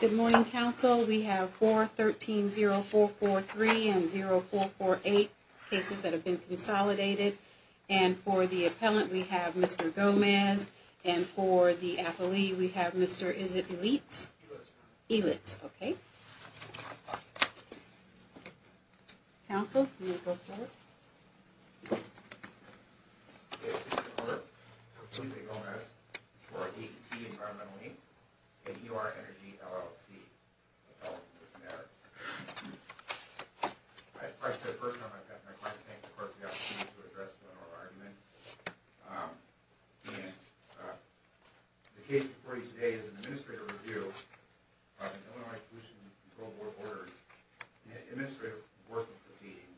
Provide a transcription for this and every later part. Good morning, Council. We have 413-0443 and 0448 cases that have been consolidated. And for the appellant, we have Mr. Gomez. And for the affilee, we have Mr. Elitz. Elitz, okay. Council, you may go forward. And E.O.R. Energy LLC. Appellants in this matter. I'd like to, first of all, I'd like to thank the Court for the opportunity to address the oral argument. And the case before you today is an Administrative Review of the Illinois Pollution Control Board Orders. In an Administrative Court of Proceedings,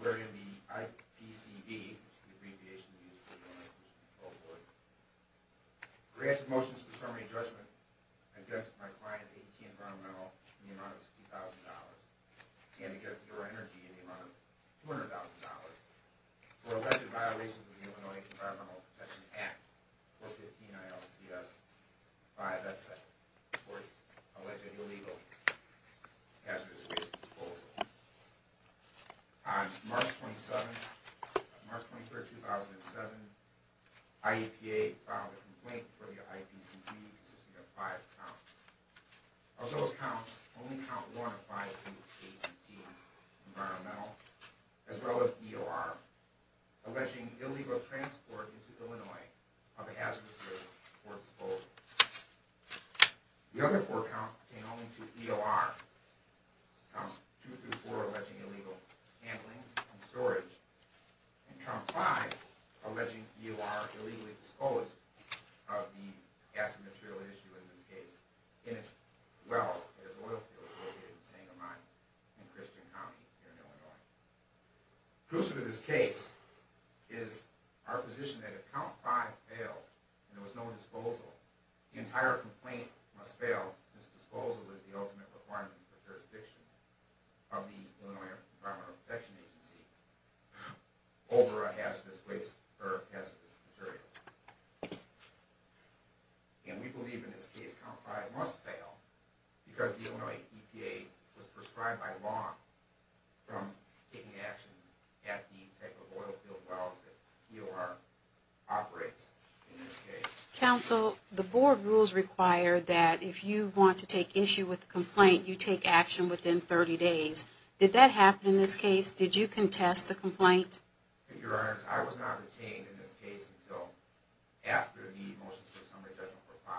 where in the IPCB, which is the abbreviation of the Illinois Pollution Control Board, we ask that motions for summary judgment against my client's AT&T Environmental in the amount of $50,000 and against E.O.R. Energy in the amount of $200,000 for alleged violations of the Illinois Environmental Protection Act, 415-ILCS-5-F7, for alleged illegal hazardous waste disposal. On March 27, 2007, IEPA filed a complaint for the IPCB consisting of five counts. Of those counts, only count one applies to AT&T Environmental, as well as E.O.R., alleging illegal transport into Illinois of a hazardous waste disposal. The other four counts pertain only to E.O.R. Counts two through four are alleging illegal handling and storage, and count five are alleging E.O.R. illegally disposed of the gas and material issue in this case, in its wells and its oil fields located in Sangamon in Christian County, here in Illinois. Crucial to this case is our position that if count five fails and there was no disposal, the entire complaint must fail since disposal is the ultimate requirement for jurisdiction of the Illinois Environmental Protection Agency over a hazardous waste or hazardous material. And we believe in this case count five must fail because the Illinois EPA was prescribed by law from taking action at the type of oil field wells that E.O.R. operates in this case. Counsel, the board rules require that if you want to take issue with the complaint, you take action within 30 days. Did that happen in this case? Did you contest the complaint? Your Honor, I was not retained in this case until after the motion for summary judgment was filed.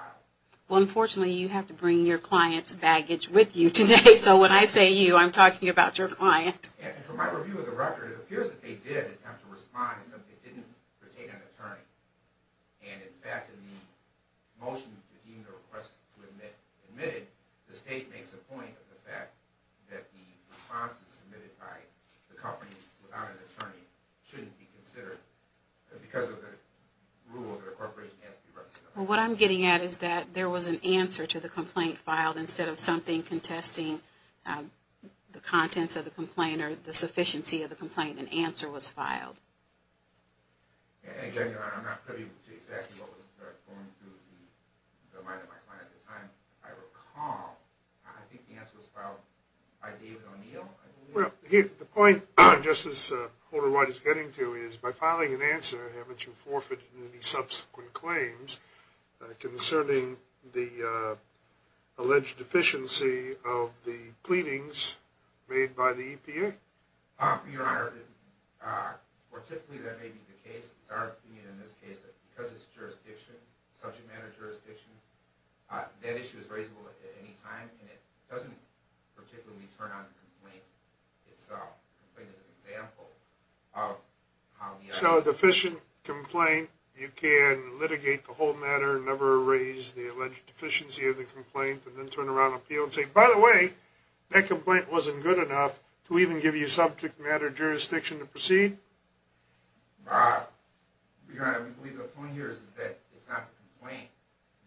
Well, unfortunately, you have to bring your client's baggage with you today, so when I say you, I'm talking about your client. And from my review of the record, it appears that they did attempt to respond in something that didn't pertain to an attorney. And, in fact, in the motion that you requested to admit, the state makes a point of the fact that the responses submitted by the company without an attorney shouldn't be considered because of the rule that a corporation has to be represented. Well, what I'm getting at is that there was an answer to the complaint filed instead of something contesting the contents of the complaint or the sufficiency of the complaint. An answer was filed. Your Honor, I'm not clear as to exactly what was going through the mind of my client at the time. If I recall, I think the answer was filed by David O'Neill. Well, the point, Justice Holder-White, is getting to is by filing an answer, haven't you forfeited any subsequent claims concerning the alleged deficiency of the pleadings made by the EPA? Your Honor, typically that may be the case. It's our opinion in this case that because it's jurisdiction, subject matter jurisdiction, that issue is raisable at any time, and it doesn't particularly turn on the complaint itself. So a deficient complaint, you can litigate the whole matter, never raise the alleged deficiency of the complaint, and then turn around appeal and say, by the way, that complaint wasn't good enough to even give you subject matter jurisdiction to proceed? Your Honor, I believe the point here is that it's not the complaint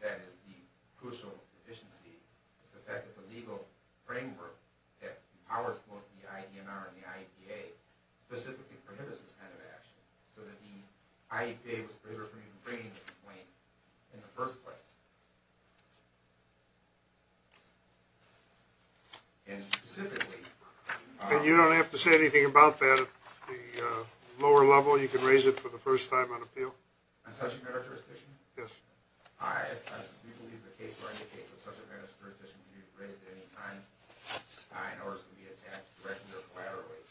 that is the crucial deficiency. It's the fact that the legal framework that powers both the IDNR and the IEPA specifically prohibits this kind of action, so that the IEPA was prohibited from even bringing the complaint in the first place. And you don't have to say anything about that at the lower level? You can raise it for the first time on appeal? On subject matter jurisdiction? Yes. I believe the case law indicates that subject matter jurisdiction can be raised at any time in order for it to be attacked directly or collaterally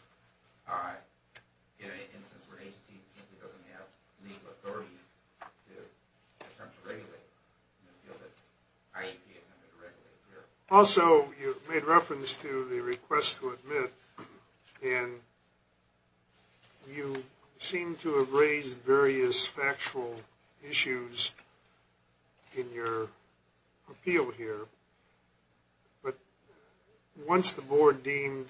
in an instance where an agency simply doesn't have legal authority to attempt to regulate it in the field that IEPA intended to regulate here. Also, you made reference to the request to admit, and you seem to have raised various factual issues in your appeal here, but once the Board deemed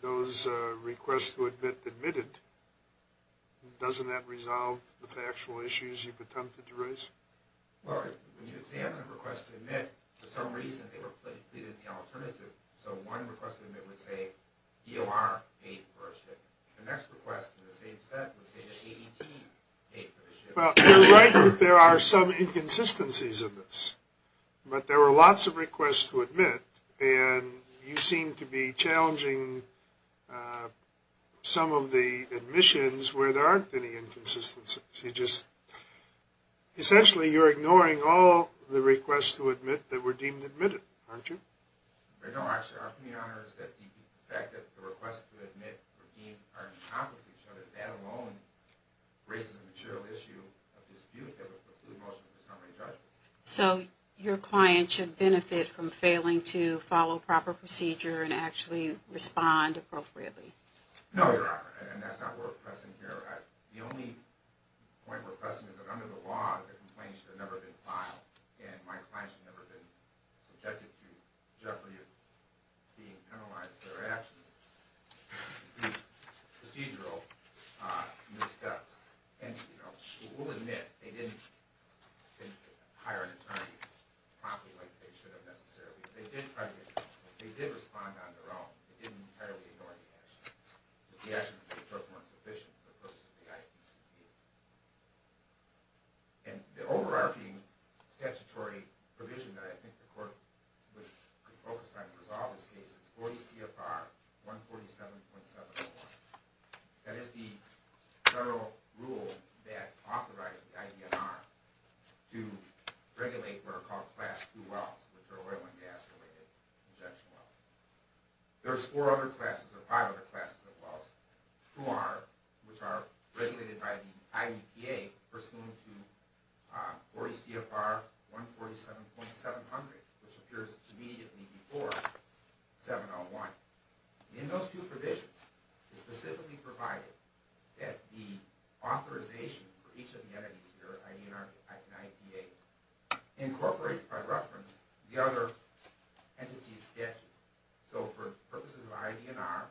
those requests to admit admitted, doesn't that resolve the factual issues you've attempted to raise? Well, when you examine a request to admit, for some reason they were pleaded the alternative. So one request to admit would say EOR paid for a ship. The next request in the same set would say that ADT paid for the ship. Well, you're right that there are some inconsistencies in this, but there were lots of requests to admit, and you seem to be challenging some of the admissions where there aren't any inconsistencies. Essentially, you're ignoring all the requests to admit that were deemed admitted, aren't you? They don't actually offer me honors. The fact that the requests to admit were deemed are in conflict with each other, that alone raises a material issue of dispute that would preclude most of the summary judgment. So your client should benefit from failing to follow proper procedure and actually respond appropriately? No, Your Honor, and that's not where we're pressing here. The only point we're pressing is that under the law, the complaints have never been filed, and my clients have never been subjected to jeopardy of being penalized for their actions. These procedural missteps. And, you know, we'll admit they didn't hire an attorney promptly like they should have necessarily. They did try to get counsel. They did respond on their own. They didn't entirely ignore the action. The action was performed sufficiently for the purpose of the IPCB. And the overarching statutory provision that I think the court would focus on to resolve this case is 40 CFR 147.701. That is the federal rule that authorizes the IDNR to regulate what are called class II wells, which are oil and gas-related injection wells. There's four other classes or five other classes of wells, which are regulated by the IDPA, pursuant to 40 CFR 147.700, which appears immediately before 701. In those two provisions, it's specifically provided that the authorization for each of the entities here, incorporates, by reference, the other entities' statutes. So, for purposes of IDNR,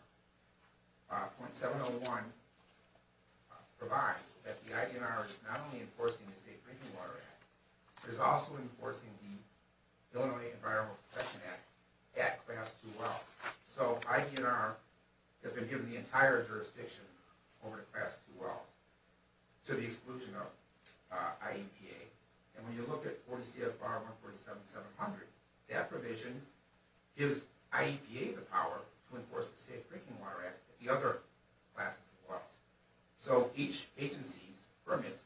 point 701 provides that the IDNR is not only enforcing the Safe Drinking Water Act, but is also enforcing the Illinois Environmental Protection Act at class II wells. So, IDNR has been given the entire jurisdiction over the class II wells to the exclusion of IEPA. And when you look at 40 CFR 147.700, that provision gives IEPA the power to enforce the Safe Drinking Water Act at the other classes of wells. So, each agency's permits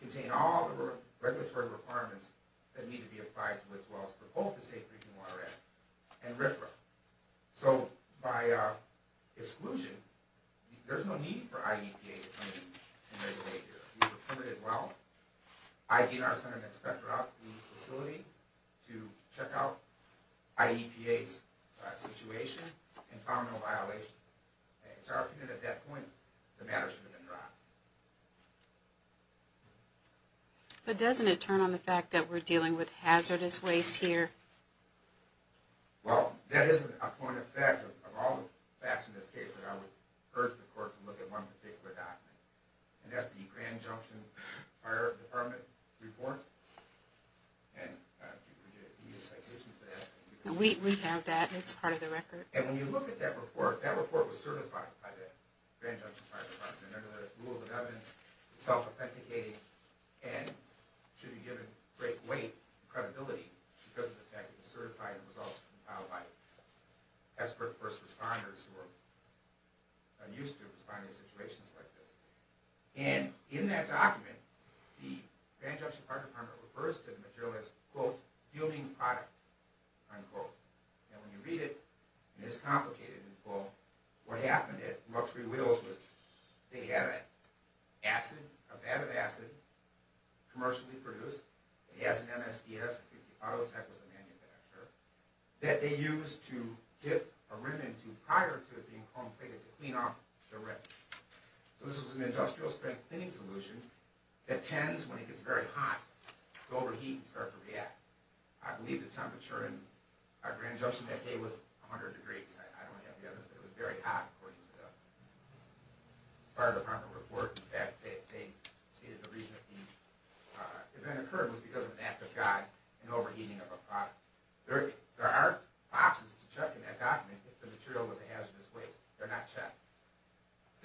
contain all the regulatory requirements that need to be applied to its wells for both the Safe Drinking Water Act and RFRA. So, by exclusion, there's no need for IEPA to come in and regulate here. These are permitted wells. IDNR sent an inspector out to the facility to check out IEPA's situation and found no violations. In our opinion, at that point, the matter should have been dropped. But doesn't it turn on the fact that we're dealing with hazardous waste here? Well, that isn't a point of fact of all the facts in this case that I would urge the court to look at one particular document. And that's the Grand Junction Fire Department report. We have that. It's part of the record. And when you look at that report, that report was certified by the Grand Junction Fire Department. It's self-authenticating and should be given great weight and credibility because of the fact that it was certified and was also compiled by expert first responders who are not used to responding to situations like this. And in that document, the Grand Junction Fire Department refers to the material as, quote, fueling product, unquote. And when you read it, it is complicated. Well, what happened at Ruxbury Wheels was they had an acid, a vat of acid, commercially produced. It has an MSDS. I think Auto Tech was the manufacturer. That they used to dip a rim into prior to it being chrome-plated to clean off the rim. So this was an industrial strengthening solution that tends, when it gets very hot, to overheat and start to react. I believe the temperature in our Grand Junction that day was 100 degrees. I don't have the evidence, but it was very hot according to the Fire Department report. In fact, the reason that the event occurred was because of an act of God in overheating of a product. There are boxes to check in that document if the material was a hazardous waste. They're not checked.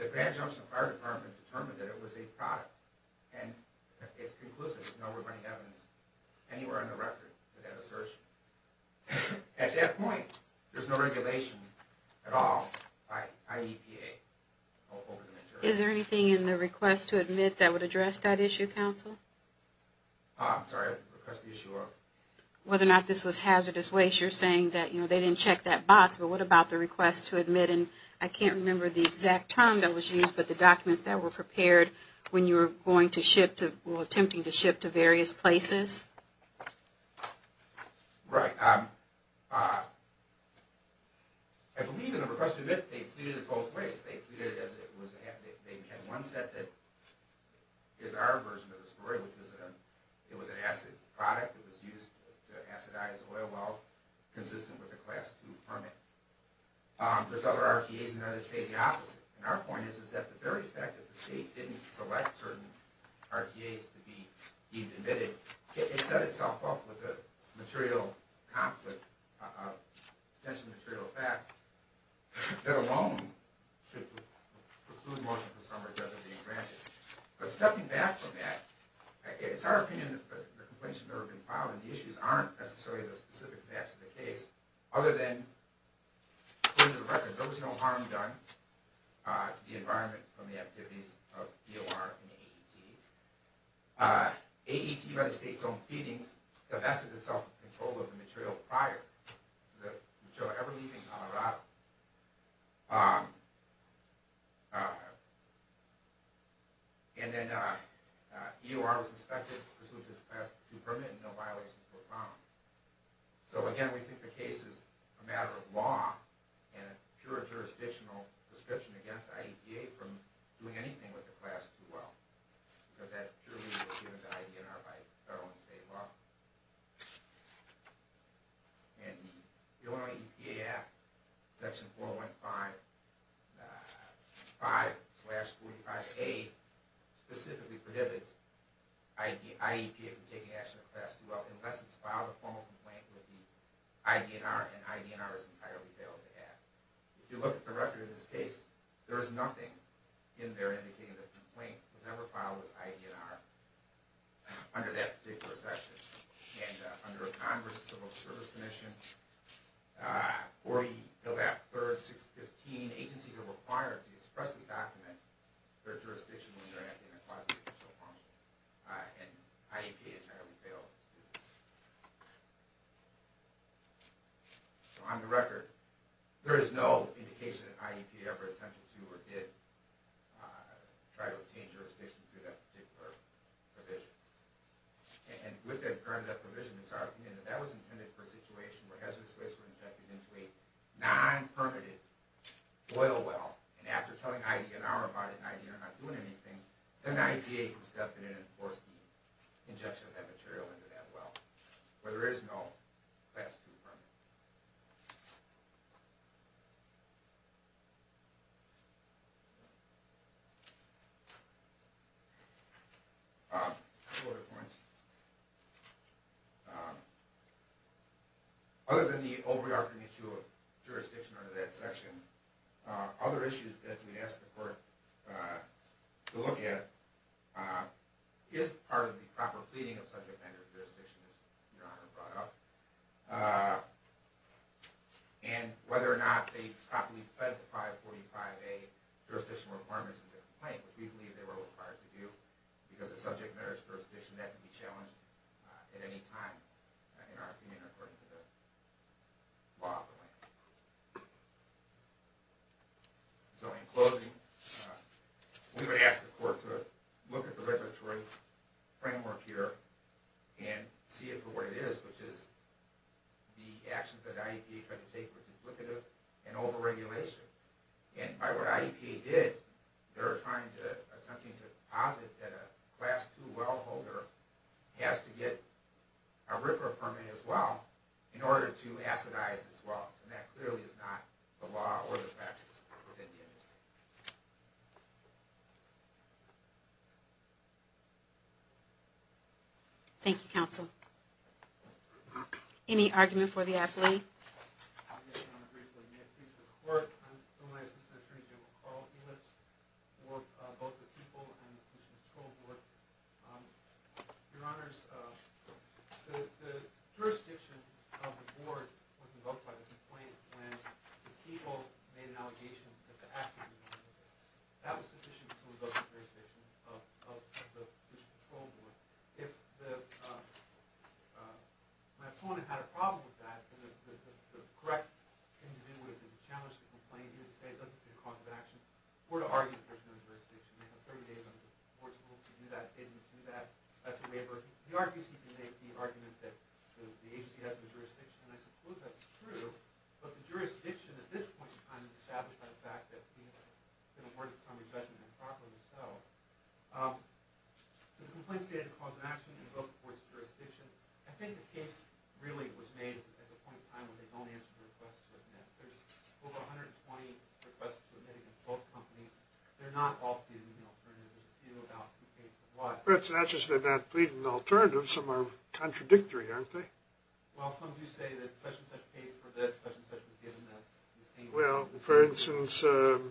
The Grand Junction Fire Department determined that it was a product. And it's conclusive. There's no remaining evidence anywhere on the record of that assertion. At that point, there's no regulation at all by IEPA over the material. Is there anything in the request to admit that would address that issue, counsel? I'm sorry, request the issue of? Whether or not this was hazardous waste. You're saying that they didn't check that box, but what about the request to admit? I can't remember the exact term that was used, but the documents that were prepared when you were attempting to ship to various places. Right. I believe in the request to admit, they pleaded it both ways. They had one set that is our version of the story, which was an acid product that was used to acidize oil wells consistent with the Class II permit. There's other RTAs in there that say the opposite. And our point is that the very fact that the state didn't select certain RTAs to be admitted, it set itself up with a material conflict of potential material facts that alone should preclude motion for summary judgment being granted. But stepping back from that, it's our opinion that the complaints have never been filed, and the issues aren't necessarily the specific facts of the case, other than, for the record, there was no harm done to the environment from the activities of EOR and AET. AET, United States Owned Feedings, divested itself of control of the material prior to the material ever leaving Colorado. And then EOR was inspected pursuant to its Class II permit and no violations were found. So again, we think the case is a matter of law and a pure jurisdictional prescription against IEPA from doing anything with the Class II well, because that purely was given to IDNR by federal and state law. And the Illinois EPA Act, Section 415.5-45A, specifically prohibits IEPA from taking action with the Class II well unless it's filed a formal complaint with the IDNR, and IDNR has entirely failed to act. If you look at the record of this case, there is nothing in there indicating that a complaint was ever filed with IDNR under that particular section. And under a Congress Civil Service Commission, 40, build out 3rd, 6th, 15, agencies are required to expressly document their jurisdiction when they're acting in a Class II well. And IEPA entirely failed to do that. So on the record, there is no indication that IEPA ever attempted to or did try to obtain jurisdiction to that particular provision. And with that provision, it's our opinion that that was intended for a situation where hazardous waste was injected into a non-permitted oil well, and after telling IDNR about it and IDNR not doing anything, then the IEPA can step in and enforce the injection of that material into that well. But there is no Class II permit. Other than the overarching issue of jurisdiction under that section, other issues that we'd ask the court to look at is part of the proper pleading of subject matter jurisdiction that Your Honor brought up. And whether or not they properly fed the 545A jurisdiction requirements of the complaint, which we believe they were required to do, because the subject matter is jurisdiction that can be challenged at any time in our community according to the law of the land. So in closing, we would ask the court to look at the regulatory framework here and see it for what it is, which is the actions that IEPA tried to take were duplicative and over-regulation. And by what IEPA did, they're attempting to posit that a Class II well holder has to get a RIPRA permit as well in order to acidize as well. And that clearly is not the law or the practice within the industry. Thank you, Counsel. Any argument for the athlete? Yes, Your Honor, great pleasure to be at peace with the court. I'm here with my assistant, Attorney General Carl Helitz, for both the People and the Police and Control Board. Your Honors, the jurisdiction of the board was invoked by the complaint when the People made an allegation that the act was illegal. That was sufficient to invoke the jurisdiction of the Police and Control Board. If my opponent had a problem with that, the correct thing to do would have been to challenge the complaint, either to say it doesn't state a cause of action, or to argue that there's no jurisdiction. They have 30 days under the board's rule to do that, didn't do that. That's a waiver. He argues he can make the argument that the agency has the jurisdiction, and I suppose that's true. But the jurisdiction at this point in time is established by the fact that he has been awarded summary judgment improperly. The complaint stated a cause of action invoked for its jurisdiction. I think the case really was made at the point in time when they only asked for requests to admit. There's over 120 requests to admit in both companies. They're not all pleading the alternative. A few about who paid for what. That's not just they're not pleading the alternative. Some are contradictory, aren't they? Well, some do say that such-and-such paid for this, such-and-such was given this. Well, for instance, the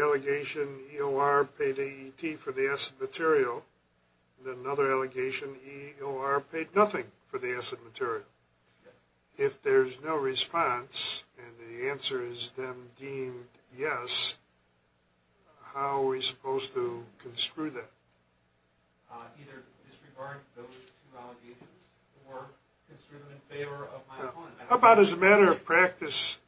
allegation EOR paid AET for the acid material. Then another allegation EOR paid nothing for the acid material. If there's no response and the answer is then deemed yes, how are we supposed to construe that? Either disregard those two allegations or construe them in favor of my opponent. How about as a matter of practice,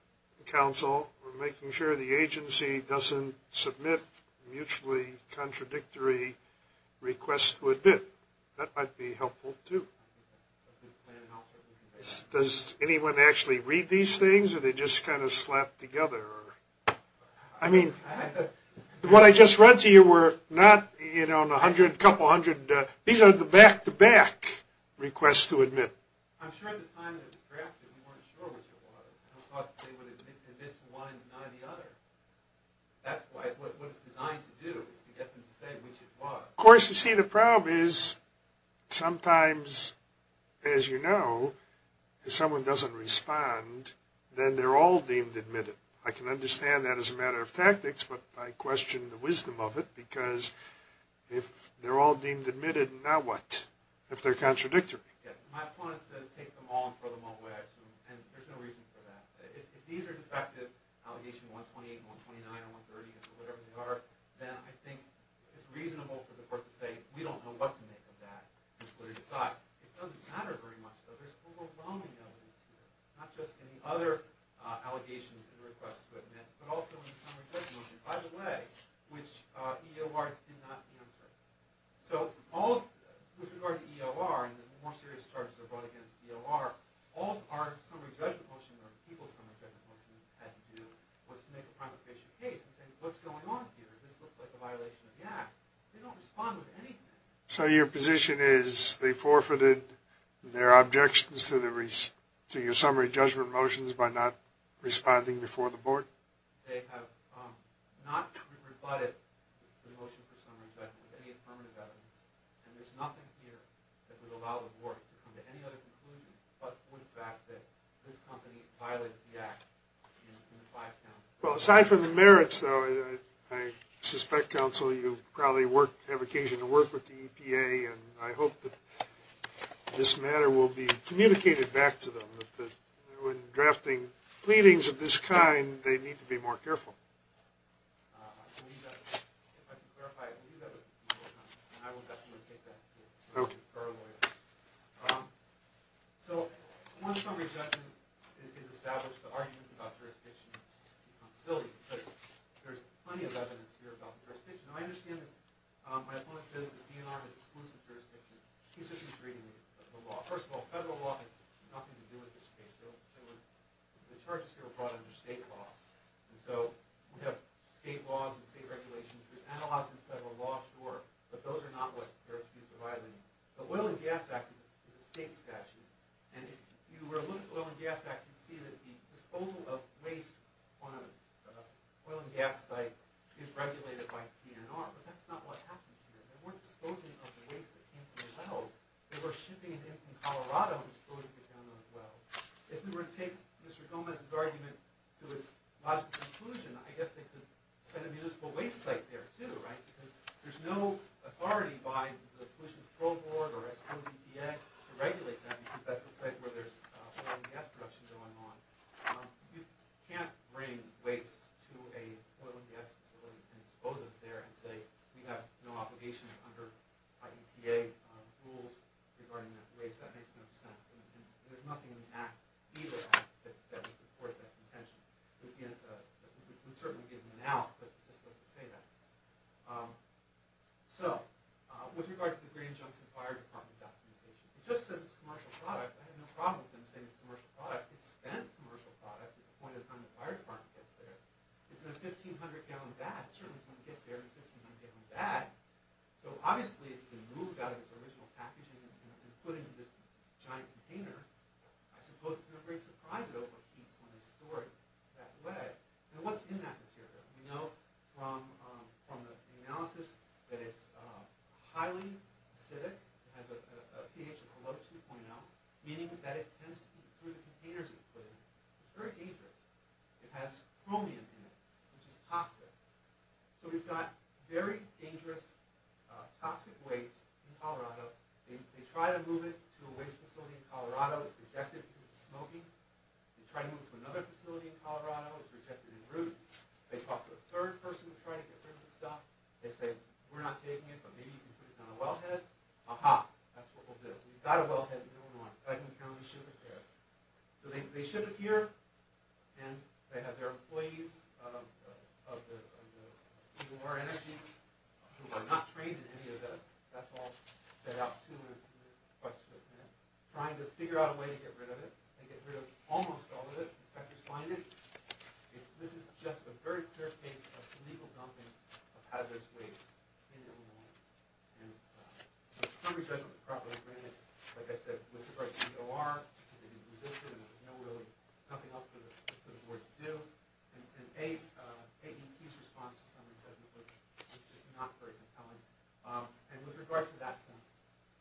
counsel, we're making sure the agency doesn't submit mutually contradictory requests to admit? That might be helpful, too. Does anyone actually read these things, or are they just kind of slapped together? I mean, what I just read to you were not, you know, a couple hundred. These are the back-to-back requests to admit. Of course, you see, the problem is sometimes, as you know, if someone doesn't respond, then they're all deemed admitted. I can understand that as a matter of tactics, but I question the wisdom of it, because if they're all deemed admitted, now what, if they're contradictory? Yes, my opponent says take them all and throw them all away, I assume, and there's no reason for that. If these are defective, allegation 128, 129, or 130, or whatever they are, then I think it's reasonable for the court to say, we don't know what to make of that. It doesn't matter very much, but there's overwhelming evidence here, not just in the other allegations and requests to admit, but also in the summary judgment motion, by the way, which EOR did not answer. So, with regard to EOR and the more serious charges that are brought against EOR, all our summary judgment motion, or the people's summary judgment motion had to do, was to make a primary patient case and say, what's going on here? This looks like a violation of the Act. They don't respond with anything. So, your position is they forfeited their objections to your summary judgment motions by not responding before the board? They have not rebutted the motion for summary judgment with any affirmative evidence, and there's nothing here that would allow the board to come to any other conclusions but point back that this company violated the Act in the five counts. Well, aside from the merits, though, I suspect, counsel, you probably have occasion to work with the EPA, and I hope that this matter will be communicated back to them, that when drafting pleadings of this kind, they need to be more careful. So, one summary judgment is established. The arguments about jurisdiction are silly, but there's plenty of evidence here about the jurisdiction. I understand that my opponent says that EOR has exclusive jurisdiction. He's just reading the law. First of all, federal law has nothing to do with this case. The charges here were brought under state law. And so we have state laws and state regulations. There's analogs in federal law, sure, but those are not what they're accused of violating. The Oil and Gas Act is a state statute, and if you were to look at the Oil and Gas Act, you'd see that the disposal of waste on an oil and gas site is regulated by PNR, but that's not what happened here. They weren't disposing of the waste that came from the wells. They were shipping it in from Colorado and disposing it down those wells. If we were to take Mr. Gomez's argument to its logical conclusion, I guess they could set a municipal waste site there, too, right? Because there's no authority by the Pollution Control Board or I suppose EPA to regulate that, because that's the site where there's oil and gas production going on. You can't bring waste to an oil and gas facility and dispose of it there and say we have no obligation under our EPA rules regarding that waste. I guess that makes no sense. There's nothing in the Act, either Act, that would support that contention. It would certainly give them an out, but it just doesn't say that. So, with regard to the Grand Junction Fire Department documentation, it just says it's a commercial product. I have no problem with them saying it's a commercial product. It's been a commercial product at the point in time the Fire Department gets there. It's a 1,500-gallon bag. It certainly wouldn't get there in a 1,500-gallon bag. Obviously, it's been moved out of its original packaging and put into this giant container. I suppose it's not a great surprise that it over-heats when it's stored that way. What's in that material? We know from the analysis that it's highly acidic. It has a pH of below 2.0, meaning that it tends to leak through the containers it's put in. It's very dangerous. It has chromium in it, which is toxic. So, we've got very dangerous, toxic waste in Colorado. They try to move it to a waste facility in Colorado. It's rejected because it's smoking. They try to move it to another facility in Colorado. It's rejected en route. They talk to a third person to try to get rid of the stuff. They say, we're not taking it, but maybe you can put it on a wellhead. Aha! That's what we'll do. We've got a wellhead in Illinois. Franklin County should repair it. So, they ship it here, and they have their employees of the EOR Energy, who are not trained in any of this. That's all set out soon in the request written in. They're trying to figure out a way to get rid of it. They get rid of almost all of it. The inspectors find it. This is just a very fair case of illegal dumping of hazardous waste in Illinois. Some of these guys don't properly grant it. Like I said, with regards to EOR, they didn't resist it, and there was really nothing else for the board to do. And AEP's response to some of these guys was just not very compelling. And with regard to that point,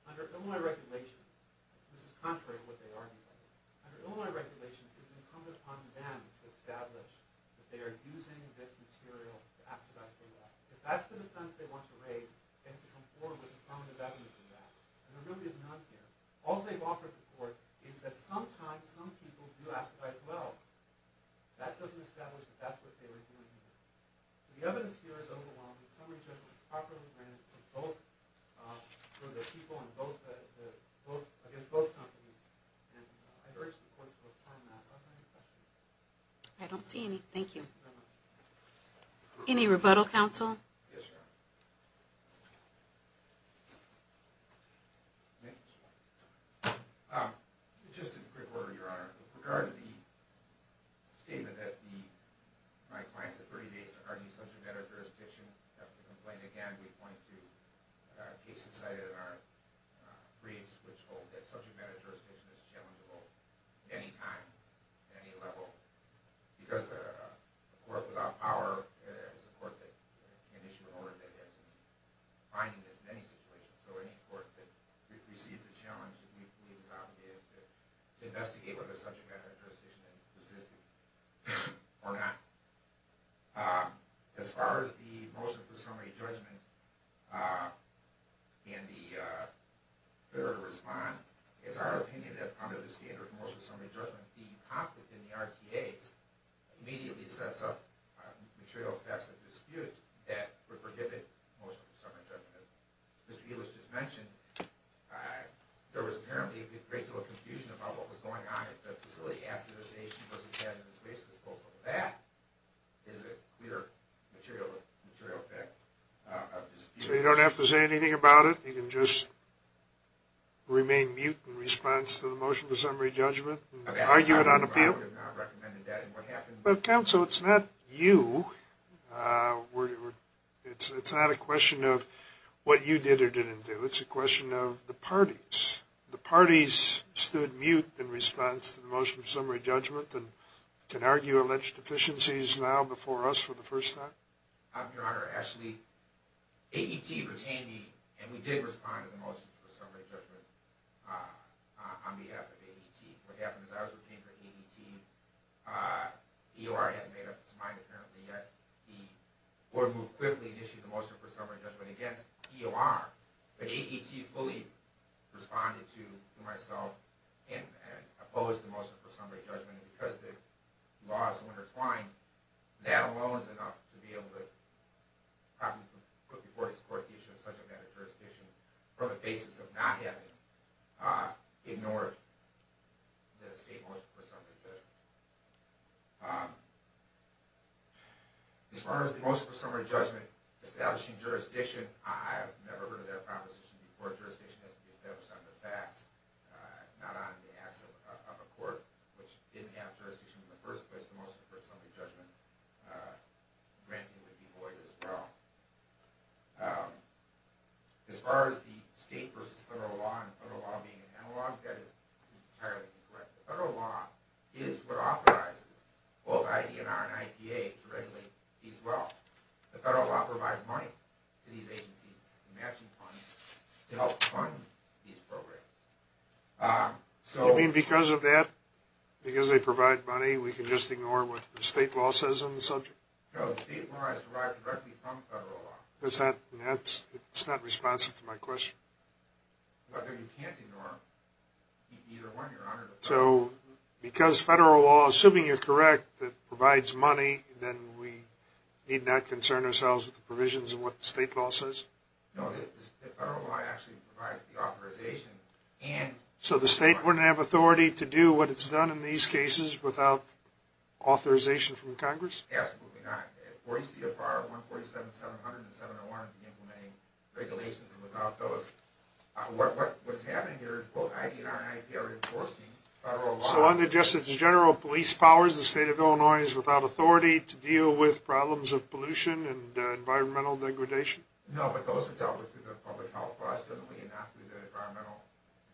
under Illinois regulations, this is contrary to what they argue, under Illinois regulations, it's incumbent upon them to establish that they are using this material to acidize the well. If that's the defense they want to raise, they have to come forward with affirmative evidence of that. And there really is none here. All they've offered the court is that sometimes some people do acidize the well. That doesn't establish that that's what they were doing. The evidence here is overwhelming. Some of these guys don't properly grant it for the people against both companies. And I urge the court to affirm that. Other questions? I don't see any. Thank you. Any rebuttal, counsel? Yes, ma'am. Just in quick order, Your Honor. With regard to the statement that my clients have 30 days to argue subject matter jurisdiction, we have to complain again. We point to cases cited in our briefs which hold that subject matter jurisdiction is challengeable at any time, at any level. Because a court without power is a court that can issue an order that has to be finding this in any situation. So any court that receives a challenge that we believe is obligated to investigate whether the subject matter jurisdiction exists or not. As far as the motion for summary judgment and the failure to respond, it's our opinion that under the standard motion for summary judgment, the conflict in the RTAs immediately sets up material facts of dispute that would prohibit motion for summary judgment. As Mr. Elish just mentioned, there was apparently a great deal of confusion about what was going on at the facility. Asked if the station was a hazardous waste disposal. That is a clear material fact of dispute. So you don't have to say anything about it? You can just remain mute in response to the motion for summary judgment and argue it on appeal? I would have not recommended that. But counsel, it's not you. It's not a question of what you did or didn't do. It's a question of the parties. The parties stood mute in response to the motion for summary judgment and can argue alleged deficiencies now before us for the first time? Your Honor, actually, AET retained me and we did respond to the motion for summary judgment on behalf of AET. What happened is I was retained by AET. EOR hadn't made up its mind apparently yet. The court moved quickly and issued the motion for summary judgment against EOR. But AET fully responded to myself and opposed the motion for summary judgment. And because the laws were intertwined, that alone is enough to be able to put before this court the issue of subject matter jurisdiction on the basis of not having ignored the state motion for summary judgment. As far as the motion for summary judgment establishing jurisdiction, I have never heard of that proposition before. Jurisdiction has to be established on the facts, not on behalf of a court which didn't have jurisdiction in the first place. The motion for summary judgment granted would be void as well. As far as the state versus federal law and federal law being analog, that is entirely incorrect. The federal law is what authorizes both ID&R and IPA to regulate these laws. The federal law provides money to these agencies in matching funds to help fund these programs. You mean because of that, because they provide money, we can just ignore what the state law says on the subject? No, the state law is derived directly from federal law. It's not responsive to my question. But you can't ignore either one, Your Honor. So because federal law, assuming you're correct, that provides money, then we need not concern ourselves with the provisions of what the state law says? No, the federal law actually provides the authorization and... So the state wouldn't have authority to do what it's done in these cases without authorization from Congress? Absolutely not. 40 CFR 147-700 and 701 are implementing regulations without those. What's happening here is both ID&R and IPA are enforcing federal law. So under Justice General Police Powers, the state of Illinois is without authority to deal with problems of pollution and environmental degradation? No, but those are dealt with through the public health laws, not through the environmental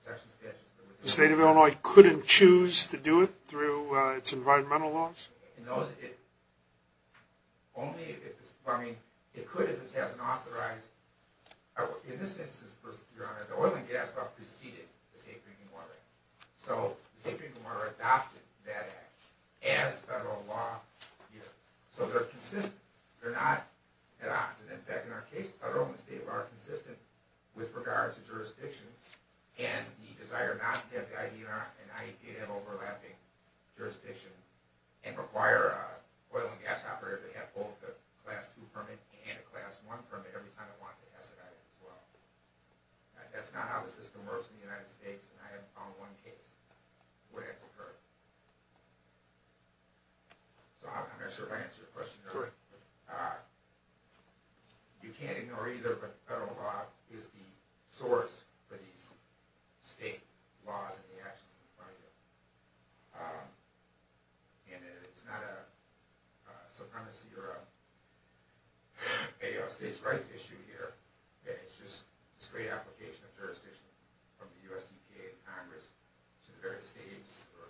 protection statutes. The state of Illinois couldn't choose to do it through its environmental laws? Only if it's... I mean, it could if it hasn't authorized... In this instance, Your Honor, the oil and gas law preceded the Safe Drinking Water Act. So the Safe Drinking Water Act adopted that act as federal law here. So they're consistent. They're not at odds. And in fact, in our case, federal and state law are consistent with regards to jurisdiction and the desire not to have the ID&R and IPA have overlapping jurisdiction and require an oil and gas operator to have both a Class 2 permit and a Class 1 permit every time it wants to acidize as well. That's not how the system works in the United States, and I haven't found one case where that's occurred. So I'm not sure if I answered your question, Your Honor. You can't ignore either, but federal law is the source for these state laws and the actions in front of you. And it's not a supremacy or a states' rights issue here. It's just a straight application of jurisdiction from the U.S. EPA and Congress to the various states who are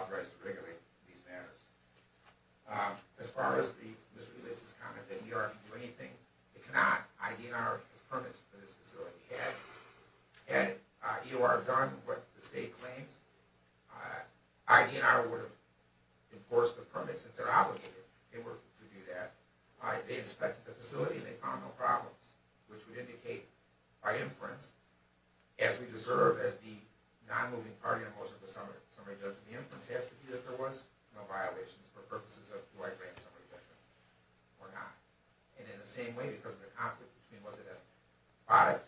authorized to regulate these matters. As far as the misreleases comment that EOR can do anything, it cannot. ID&R has permits for this facility. Had EOR done what the state claims, ID&R would have enforced the permits if they're obligated to do that. They inspected the facility and they found no problems, which would indicate by inference, as we deserve as the non-moving party in the motion of the summary, the inference has to be that there was no violations for purposes of do I grant summary judgment or not. And in the same way, because of the conflict between was it a product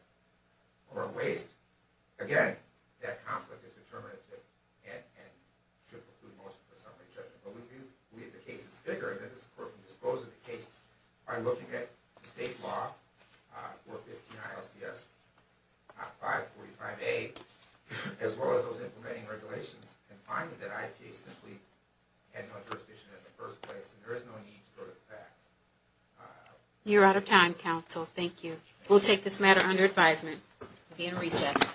or a waste, again, that conflict is determinative and should preclude motion for summary judgment. But we believe the case is bigger and that this Court can dispose of the case by looking at the state law, 415 ILCS 545A, as well as those implementing regulations, and finding that IPA simply had no jurisdiction in the first place and there is no need to go to the facts. You're out of time, counsel. Thank you. We'll take this matter under advisement. We'll be in recess.